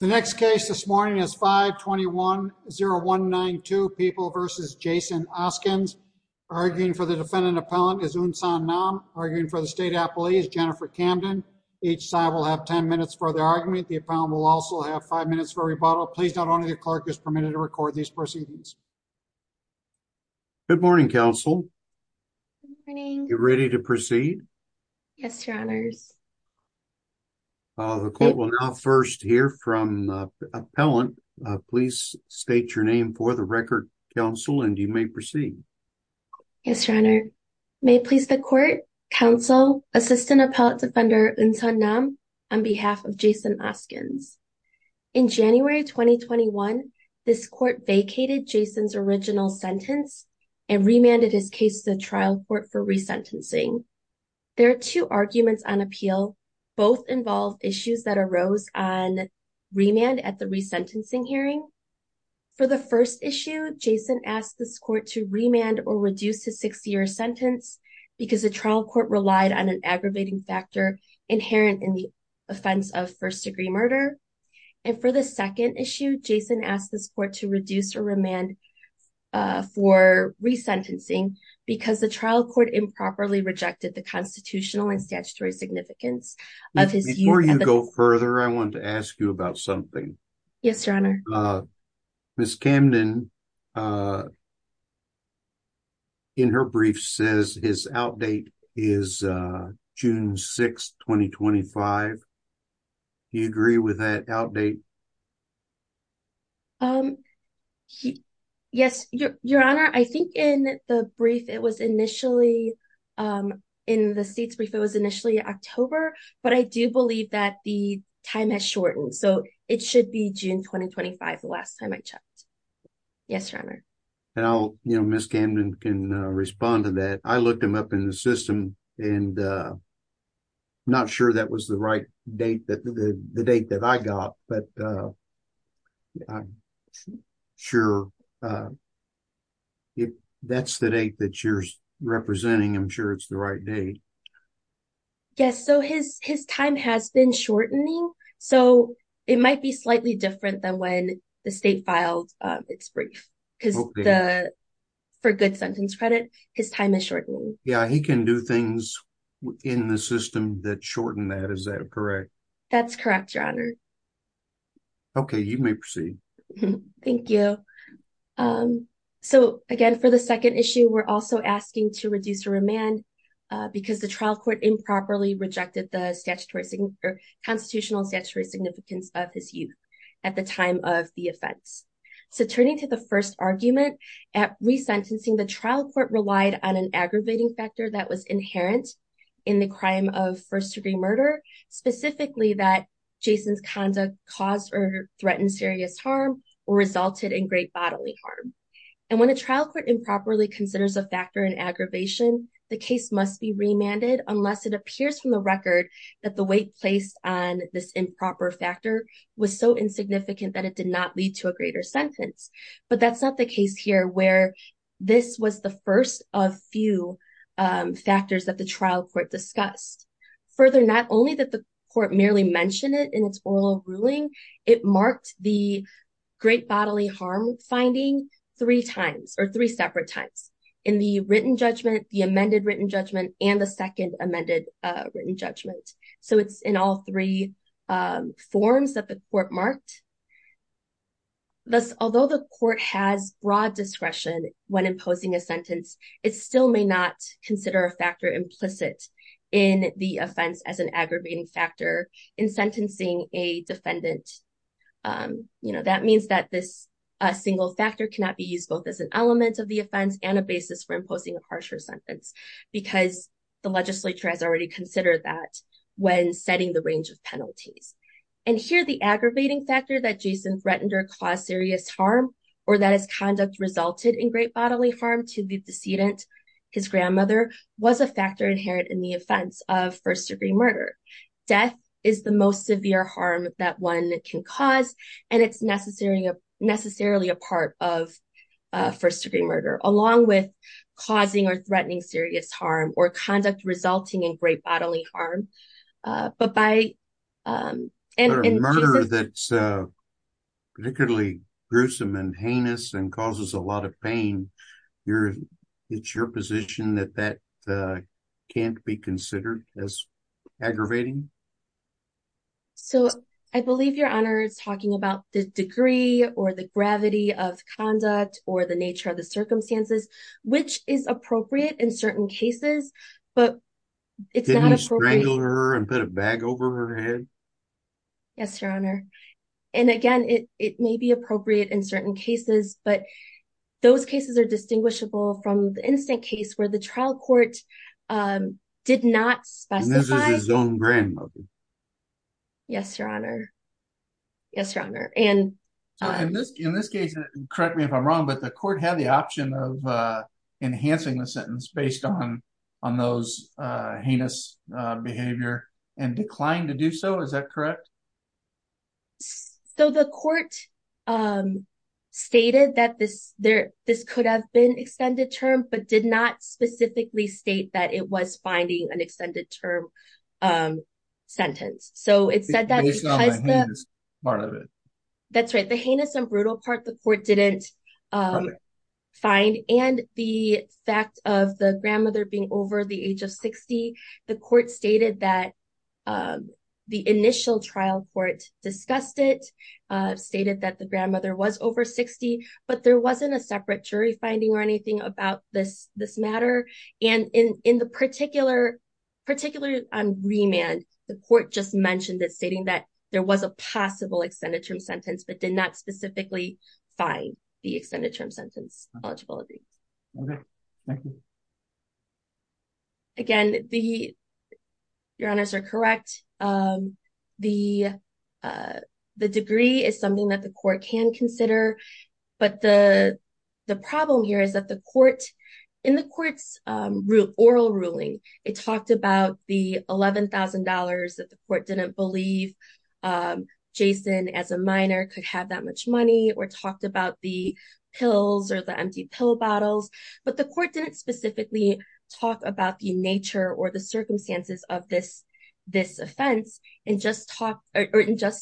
The next case this morning is 521-0192, People v. Jason Oskins. Arguing for the defendant appellant is Unsan Nam. Arguing for the state appellee is Jennifer Camden. Each side will have 10 minutes for the argument. The appellant will also have 5 minutes for rebuttal. Please note only the clerk is permitted to record these proceedings. Good morning, counsel. You ready to proceed? Yes, your honors. The court will now first hear from the appellant. Please state your name for the record, counsel, and you may proceed. Yes, your honor. May it please the court, counsel, assistant appellant defender Unsan Nam, on behalf of Jason Oskins. In January 2021, this court vacated Jason's original sentence and remanded his case to the trial court for resentencing. There are two arguments on appeal. Both involve issues that arose on remand at the resentencing hearing. For the first issue, Jason asked this court to remand or reduce his six-year sentence because the trial court relied on an aggravating factor inherent in the offense of first-degree murder. And for the second issue, Jason asked this court to reduce or remand for resentencing because the trial court improperly rejected the constitutional and statutory significance of his use of the- Before you go further, I want to ask you about something. Yes, your honor. Ms. Camden, in her brief, says his outdate is June 6, 2025. Do you agree with that outdate? Yes, your honor. I think in the brief, it was initially- in the state's brief, it was initially October, but I do believe that the time has shortened. So it should be June 2025, the last time I checked. Yes, your honor. And I'll- you know, Ms. Camden can respond to that. I looked him up in the system and not sure that was the right date- the date that I got. But I'm sure if that's the date that you're representing, I'm sure it's the right date. Yes, so his time has been shortening. So it might be slightly different than when the state filed its brief, because the- for good sentence credit, his time is shortening. Yeah, he can do things in the system that shorten that. Is that correct? That's correct, your honor. Okay, you may proceed. Thank you. So, again, for the second issue, we're also asking to reduce remand because the trial court improperly rejected the constitutional and statutory significance of his youth at the time of the offense. So turning to the first argument, at resentencing, the trial court relied on an aggravating factor that was inherent in the crime of first-degree murder, specifically that Jason's conduct caused or threatened serious harm or resulted in great bodily harm. And when a trial court improperly considers a factor in aggravation, the case must be remanded unless it appears from the record that the weight placed on this improper factor was so insignificant that it did not lead to a greater sentence. But that's not the case here, where this was the first of few factors that the trial court discussed. Further, not only did the court merely mention it in its oral ruling, it marked the great bodily harm finding three times, or three separate times, in the written judgment, the amended written judgment, and the second amended written judgment. So it's in all three forms that the court marked. Thus, although the court has broad discretion when imposing a sentence, it still may not consider a factor implicit in the offense as an aggravating factor in sentencing a defendant. That means that this single factor cannot be used both as an element of the offense and a basis for imposing a harsher sentence, because the legislature has already considered that when setting the range of penalties. And here, the aggravating factor that Jason threatened or caused serious harm, or that his conduct resulted in great bodily harm to the decedent, his grandmother, was a factor inherent in the offense of first degree murder. Death is the most severe harm that one can cause, and it's necessarily a part of first degree murder, along with causing or threatening serious harm or conduct resulting in great bodily harm. But by... A murder that's particularly gruesome and heinous and causes a lot of pain, it's your position that that can't be considered as aggravating? So, I believe Your Honor is talking about the degree or the gravity of conduct or the nature of the circumstances, which is appropriate in certain cases, but it's not appropriate... To wrangle her and put a bag over her head? Yes, Your Honor. And again, it may be appropriate in certain cases, but those cases are distinguishable from the instant case where the trial court did not specify... And this is his own grandmother. Yes, Your Honor. Yes, Your Honor. In this case, correct me if I'm wrong, but the court had the option of enhancing the sentence based on those heinous behavior and declined to do so, is that correct? So, the court stated that this could have been extended term, but did not specifically state that it was finding an extended term sentence. Based on the heinous part of it? That's right. The heinous and brutal part, the court didn't find. And the fact of the grandmother being over the age of 60, the court stated that the initial trial court discussed it, stated that the grandmother was over 60, but there wasn't a separate jury finding or anything about this matter. And in the particular remand, the court just mentioned it, stating that there was a possible extended term sentence, but did not specifically find the extended term sentence eligibility. Okay. Thank you. Again, Your Honors are correct. The degree is something that the court can consider. But the problem here is that the court, in the court's oral ruling, it talked about the $11,000 that the court didn't believe Jason as a minor could have that much money or talked about the pills or the empty pill bottles. But the court didn't specifically talk about the nature or the circumstances of this offense and just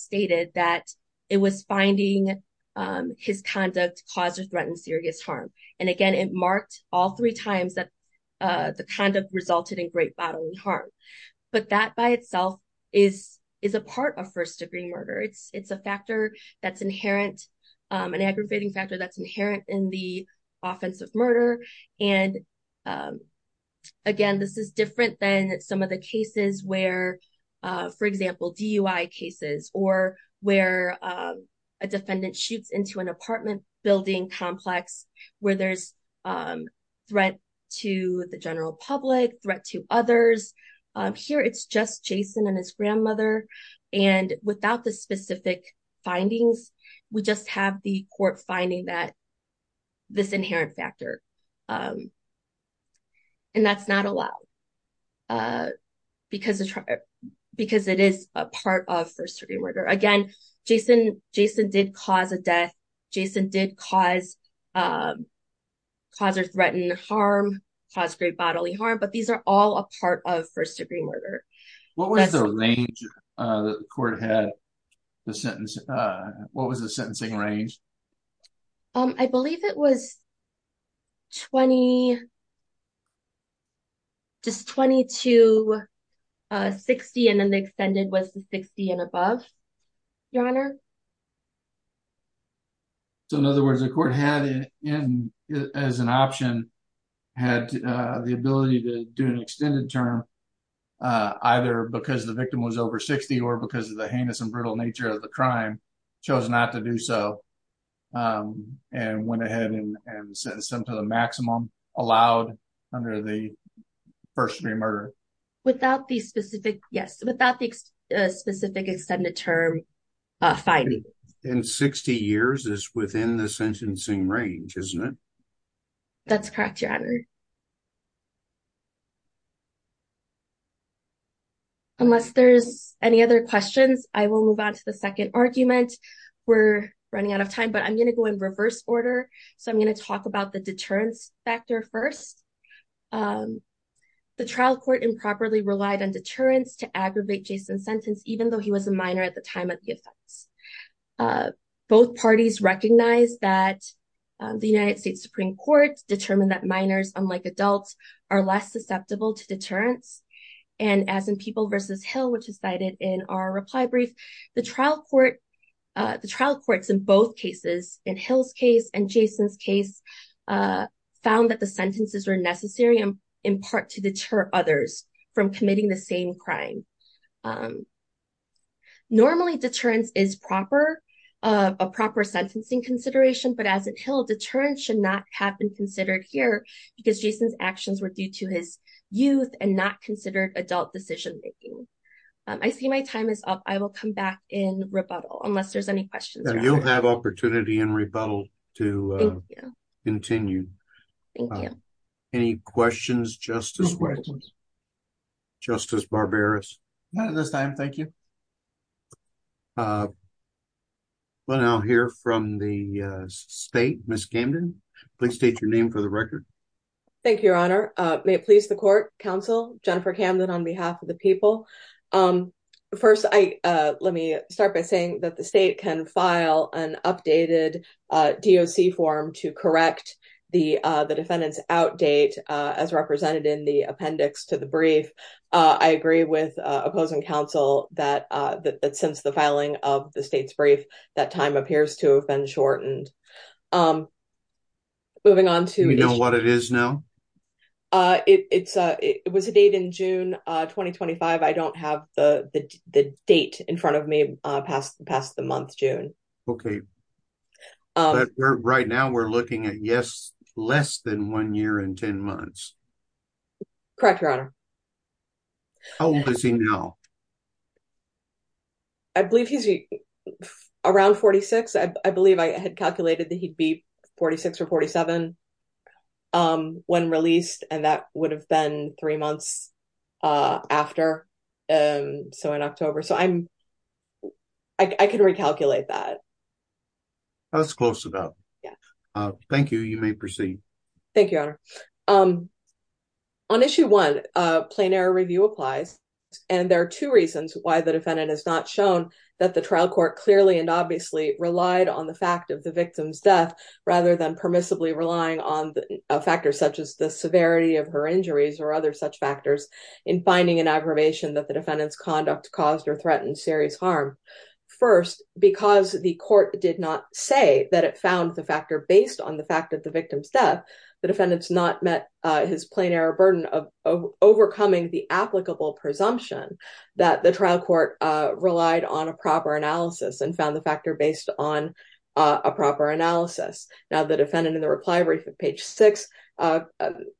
stated that it was finding his conduct caused or threatened serious harm. And again, it marked all three times that the conduct resulted in great bodily harm. But that by itself is a part of first degree murder. It's a factor that's inherent, an aggravating factor that's inherent in the offense of murder. And again, this is different than some of the cases where, for example, DUI cases or where a defendant shoots into an apartment building complex where there's threat to the general public, threat to others. Here, it's just Jason and his grandmother. And without the specific findings, we just have the court finding this inherent factor. And that's not allowed because it is a part of first degree murder. Again, Jason did cause a death. Jason did cause or threaten harm, cause great bodily harm. But these are all a part of first degree murder. What was the range that the court had the sentence? What was the sentencing range? I believe it was 20, just 20 to 60. So in other words, the court had, as an option, had the ability to do an extended term, either because the victim was over 60 or because of the heinous and brutal nature of the crime, chose not to do so. And went ahead and sentenced them to the maximum allowed under the first degree murder. Without the specific, yes, without the specific extended term finding. And 60 years is within the sentencing range, isn't it? That's correct, Your Honor. Unless there's any other questions, I will move on to the second argument. We're running out of time, but I'm going to go in reverse order. So I'm going to talk about the deterrence factor first. The trial court improperly relied on deterrence to aggravate Jason's sentence, even though he was a minor at the time of the offense. Both parties recognized that the United States Supreme Court determined that minors, unlike adults, are less susceptible to deterrence. And as in People v. Hill, which is cited in our reply brief, the trial court, the trial courts in both cases, in Hill's case and Jason's case, found that the sentences were necessary in part to deter others from committing the same crime. Normally, deterrence is proper, a proper sentencing consideration. But as in Hill, deterrence should not have been considered here because Jason's actions were due to his youth and not considered adult decision making. I see my time is up. I will come back in rebuttal unless there's any questions. You'll have opportunity in rebuttal to continue. Thank you. Any questions, Justice White? No questions. Justice Barberis? Not at this time, thank you. We'll now hear from the state. Ms. Camden, please state your name for the record. Thank you, Your Honor. May it please the court, counsel, Jennifer Camden on behalf of the people. First, let me start by saying that the state can file an updated DOC form to correct the defendant's outdate as represented in the appendix to the brief. I agree with opposing counsel that since the filing of the state's brief, that time appears to have been shortened. Moving on to... Do you know what it is now? It was a date in June 2025. I don't have the date in front of me past the month, June. Okay. Right now, we're looking at less than one year and ten months. Correct, Your Honor. How old is he now? I believe he's around 46. I believe I had calculated that he'd be 46 or 47 when released, and that would have been three months after, so in October. So I'm... I can recalculate that. That's close enough. Thank you. You may proceed. Thank you, Your Honor. On issue one, plain error review applies, and there are two reasons why the defendant has not shown that the trial court clearly and obviously relied on the fact of the victim's death rather than permissibly relying on factors such as the severity of her injuries or other such factors in finding an aggravation that the defendant's conduct caused or threatened serious harm. First, because the court did not say that it found the factor based on the fact of the victim's death, the defendant's not met his plain error burden of overcoming the applicable presumption that the trial court relied on a proper analysis and found the factor based on a proper analysis. Now, the defendant in the reply brief at page six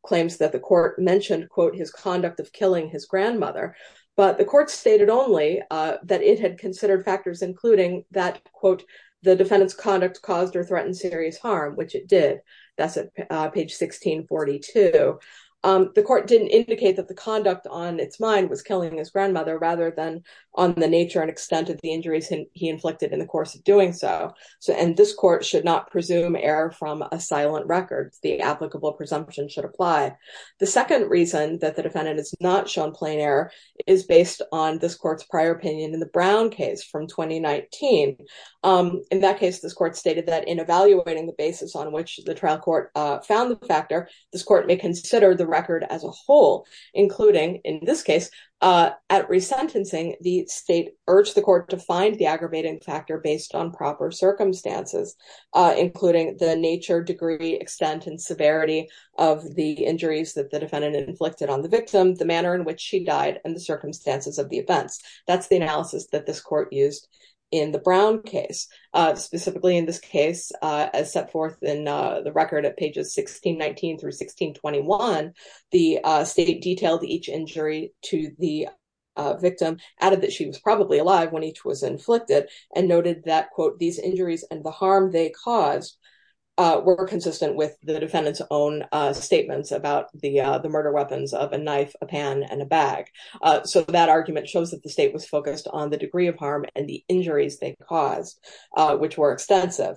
claims that the court mentioned, quote, his conduct of killing his grandmother, but the court stated only that it had considered factors including that, quote, the defendant's conduct caused or threatened serious harm, which it did. That's at page 1642. The court didn't indicate that the conduct on its mind was killing his grandmother rather than on the nature and extent of the injuries he inflicted in the course of doing so, and this court should not presume error from a silent record. The applicable presumption should apply. The second reason that the defendant is not shown plain error is based on this court's prior opinion in the Brown case from 2019. In that case, this court stated that in evaluating the basis on which the trial court found the factor, this court may consider the record as a whole, including in this case at resentencing, the state urged the court to find the aggravating factor based on proper circumstances, including the nature, degree, extent, and severity of the injuries that the defendant inflicted on the victim, the manner in which she died and the circumstances of the events. That's the analysis that this court used in the Brown case. Specifically in this case, as set forth in the record at pages 1619 through 1621, the state detailed each injury to the victim, added that she was probably alive when each was inflicted, and noted that, quote, these injuries and the harm they caused were consistent with the defendant's own statements about the murder weapons of a knife, a pan, and a bag. So that argument shows that the state was focused on the degree of harm and the injuries they caused, which were extensive.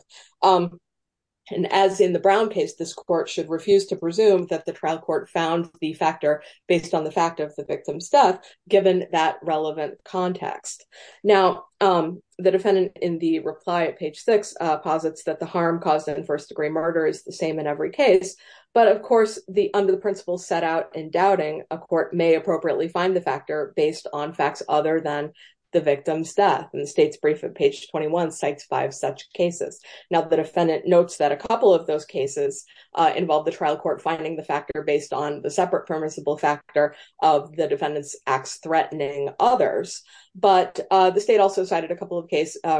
And as in the Brown case, this court should refuse to presume that the trial court found the factor based on the fact of the victim's death, given that relevant context. Now, the defendant in the reply at page 6 posits that the harm caused in first degree murder is the same in every case. But of course, under the principles set out in doubting, a court may appropriately find the factor based on facts other than the victim's death. And the state's brief at page 21 cites five such cases. Now, the defendant notes that a couple of those cases involved the trial court finding the factor based on the separate permissible factor of the defendant's acts threatening others. But the state also cited a couple of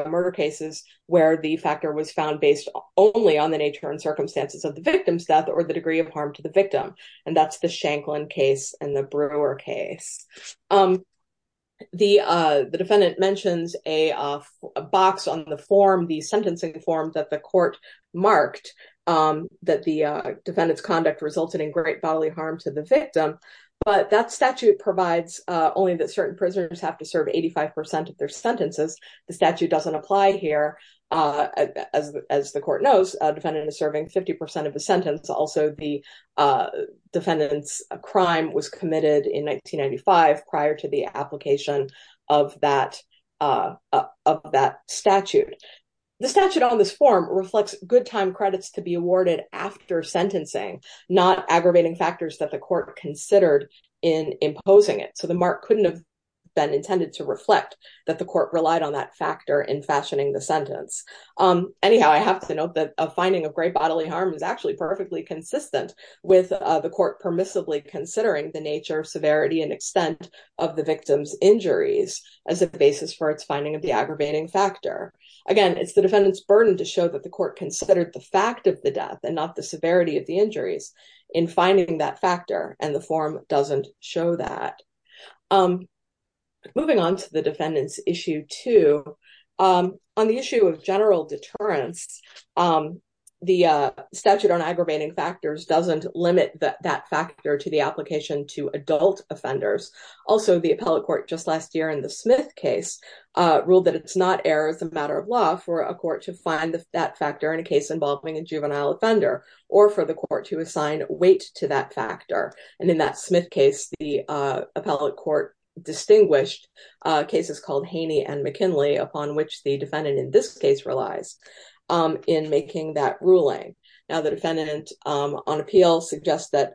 murder cases where the factor was found based only on the nature and circumstances of the victim's death or the degree of harm to the victim. And that's the Shanklin case and the Brewer case. The defendant mentions a box on the form, the sentencing form that the court marked that the defendant's conduct resulted in great bodily harm to the victim. But that statute provides only that certain prisoners have to serve 85 percent of their sentences. The statute doesn't apply here. As the court knows, a defendant is serving 50 percent of the sentence. Also, the defendant's crime was committed in 1995 prior to the application of that of that statute. The statute on this form reflects good time credits to be awarded after sentencing, not aggravating factors that the court considered in imposing it. So the mark couldn't have been intended to reflect that the court relied on that factor in fashioning the sentence. Anyhow, I have to note that a finding of great bodily harm is actually perfectly consistent with the court permissibly considering the nature, severity and extent of the victim's injuries as a basis for its finding of the aggravating factor. Again, it's the defendant's burden to show that the court considered the fact of the death and not the severity of the injuries in finding that factor. And the form doesn't show that. Moving on to the defendant's issue two. On the issue of general deterrence, the statute on aggravating factors doesn't limit that factor to the application to adult offenders. Also, the appellate court just last year in the Smith case ruled that it's not air as a matter of law for a court to find that factor in a case involving a juvenile offender or for the court to assign weight to that factor. And in that Smith case, the appellate court distinguished cases called Haney and McKinley, upon which the defendant in this case relies in making that ruling. Now, the defendant on appeal suggests that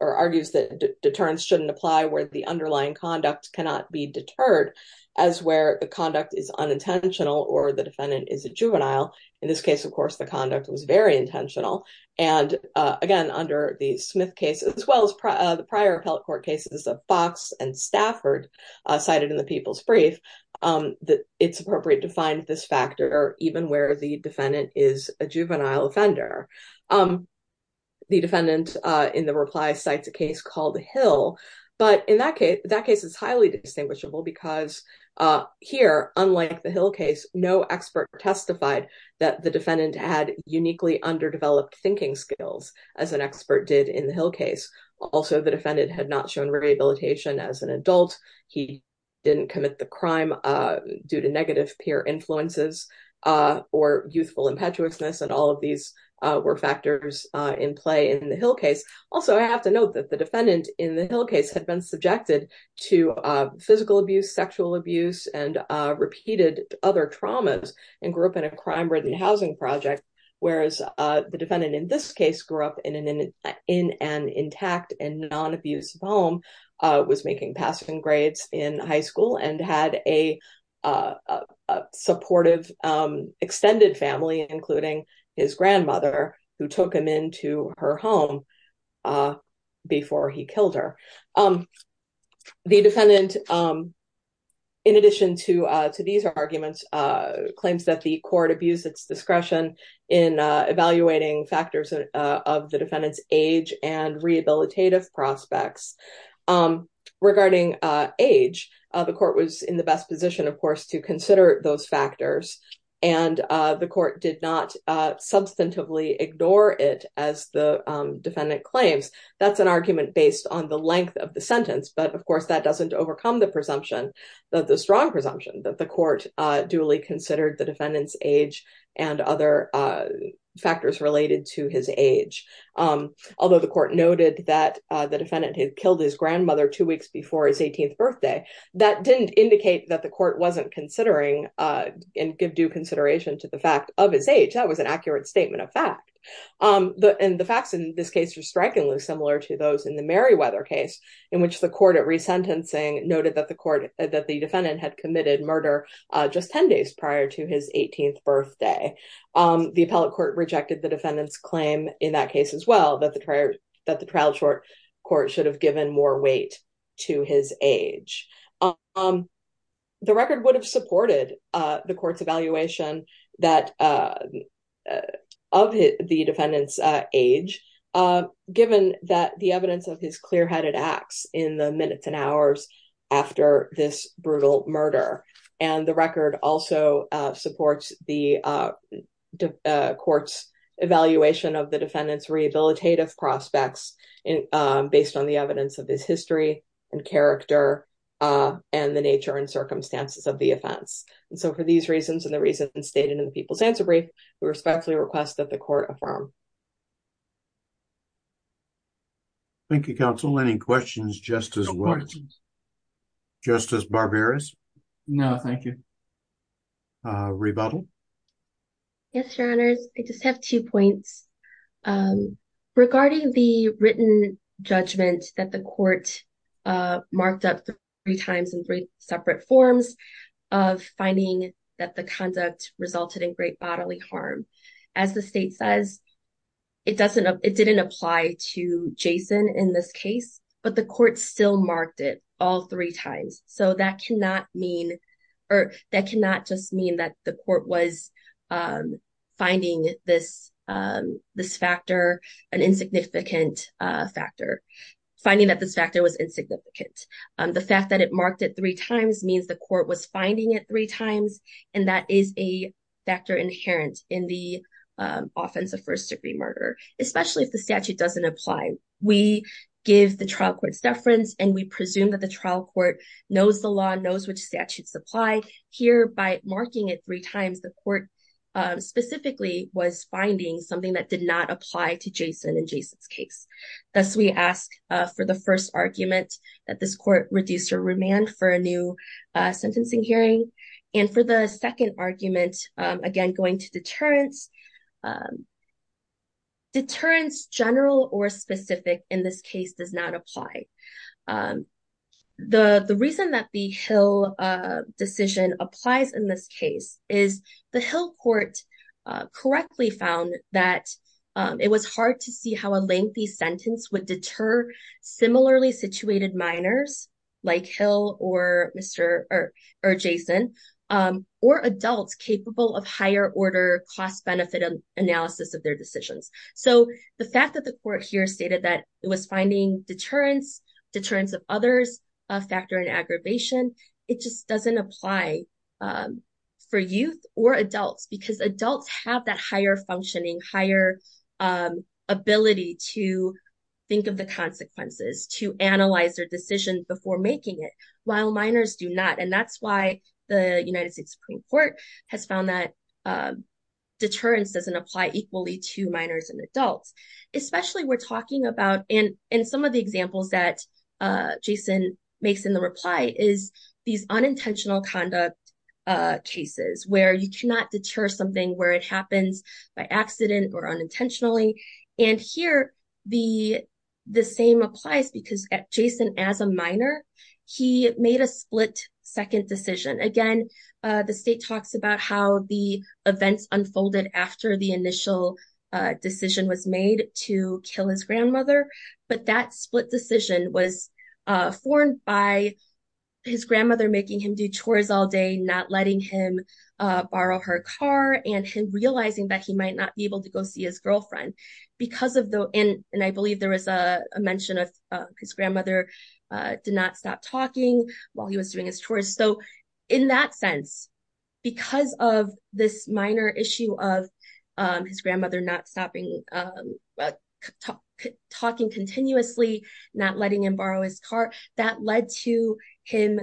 or argues that deterrence shouldn't apply where the underlying conduct cannot be deterred as where the conduct is unintentional or the defendant is a juvenile. In this case, of course, the conduct was very intentional. And again, under the Smith case, as well as the prior appellate court cases of Fox and Stafford cited in the People's Brief, that it's appropriate to find this factor even where the defendant is a juvenile offender. The defendant in the reply cites a case called Hill, but in that case, that case is highly distinguishable because here, unlike the Hill case, no expert testified that the defendant had uniquely underdeveloped thinking skills as an expert did in the Hill case. Also, the defendant had not shown rehabilitation as an adult. He didn't commit the crime due to negative peer influences or youthful impetuousness, and all of these were factors in play in the Hill case. Also, I have to note that the defendant in the Hill case had been subjected to physical abuse, sexual abuse and repeated other traumas and grew up in a crime-ridden housing project. Whereas the defendant in this case grew up in an intact and non-abuse home, was making passing grades in high school and had a supportive extended family, including his grandmother, who took him into her home before he killed her. The defendant, in addition to these arguments, claims that the court abused its discretion in evaluating factors of the defendant's age and rehabilitative prospects. Regarding age, the court was in the best position, of course, to consider those factors and the court did not substantively ignore it as the defendant claims. That's an argument based on the length of the sentence, but of course that doesn't overcome the strong presumption that the court duly considered the defendant's age and other factors related to his age. Although the court noted that the defendant had killed his grandmother two weeks before his 18th birthday, that didn't indicate that the court wasn't considering and give due consideration to the fact of his age. That was an accurate statement of fact. The facts in this case are strikingly similar to those in the Meriwether case, in which the court at resentencing noted that the defendant had committed murder just 10 days prior to his 18th birthday. The appellate court rejected the defendant's claim in that case as well, that the trial court should have given more weight to his age. The record would have supported the court's evaluation of the defendant's age, given the evidence of his clear-headed acts in the minutes and hours after this brutal murder. The record also supports the court's evaluation of the defendant's rehabilitative prospects, based on the evidence of his history and character and the nature and circumstances of the offense. For these reasons and the reasons stated in the People's Answer Brief, we respectfully request that the court affirm. Thank you, counsel. Any questions, Justice Williams? No questions. Justice Barberis? No, thank you. Rebuttal? Yes, Your Honors. I just have two points. Regarding the written judgment that the court marked up three times in three separate forms of finding that the conduct resulted in great bodily harm, as the state says, it didn't apply to Jason in this case, but the court still marked it all three times. So that cannot mean, or that cannot just mean that the court was finding this factor an insignificant factor, finding that this factor was insignificant. The fact that it marked it three times means the court was finding it three times, and that is a factor inherent in the offense of first-degree murder, especially if the statute doesn't apply. We give the trial court's deference, and we presume that the trial court knows the law, knows which statutes apply. Here, by marking it three times, the court specifically was finding something that did not apply to Jason in Jason's case. Thus, we ask for the first argument that this court reduce her remand for a new sentencing hearing, and for the second argument, again, going to deterrence, deterrence, general or specific, in this case, does not apply. The reason that the Hill decision applies in this case is the Hill court correctly found that it was hard to see how a lengthy sentence would deter similarly situated minors, like Hill or Jason, or adults capable of higher-order cost-benefit analysis of their decisions. The fact that the court here stated that it was finding deterrence, deterrence of others, a factor in aggravation, it just doesn't apply for youth or adults because adults have that higher functioning, higher ability to think of the consequences, to analyze their decision before making it, while minors do not. That's why the United States Supreme Court has found that deterrence doesn't apply equally to minors and adults. Especially, we're talking about, in some of the examples that Jason makes in the reply, is these unintentional conduct cases where you cannot deter something where it happens by accident or unintentionally. Here, the same applies because Jason, as a minor, he made a split-second decision. Again, the state talks about how the events unfolded after the initial decision was made to kill his grandmother, but that split decision was formed by his grandmother making him do chores all day, not letting him borrow her car, and him realizing that he might not be able to go see his girlfriend. I believe there was a mention of his grandmother did not stop talking while he was doing his chores. In that sense, because of this minor issue of his grandmother not stopping talking continuously, not letting him borrow his car, that led to him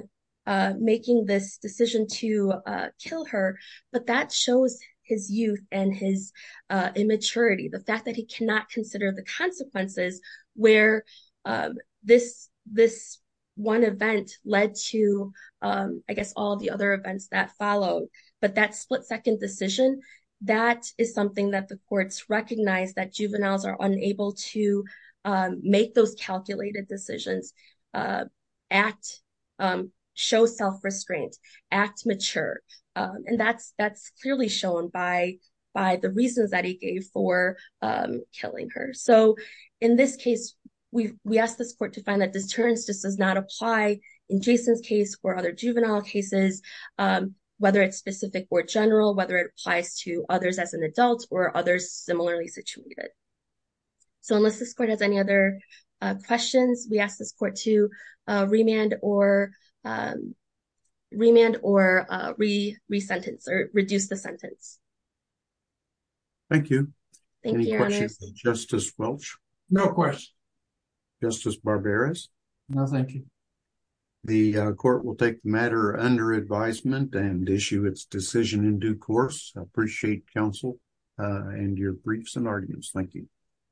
making this decision to kill her. But that shows his youth and his immaturity. The fact that he cannot consider the consequences where this one event led to, I guess, all the other events that followed. But that split-second decision, that is something that the courts recognize that juveniles are unable to make those calculated decisions, show self-restraint, act mature. That's clearly shown by the reasons that he gave for killing her. In this case, we ask this court to find that deterrence just does not apply in Jason's case or other juvenile cases, whether it's specific or general, whether it applies to others as an adult or others similarly situated. Unless this court has any other questions, we ask this court to remand or re-sentence or reduce the sentence. Thank you. Any questions for Justice Welch? No questions. Justice Barberas? No, thank you. The court will take the matter under advisement and issue its decision in due course. I appreciate counsel and your briefs and arguments. Thank you.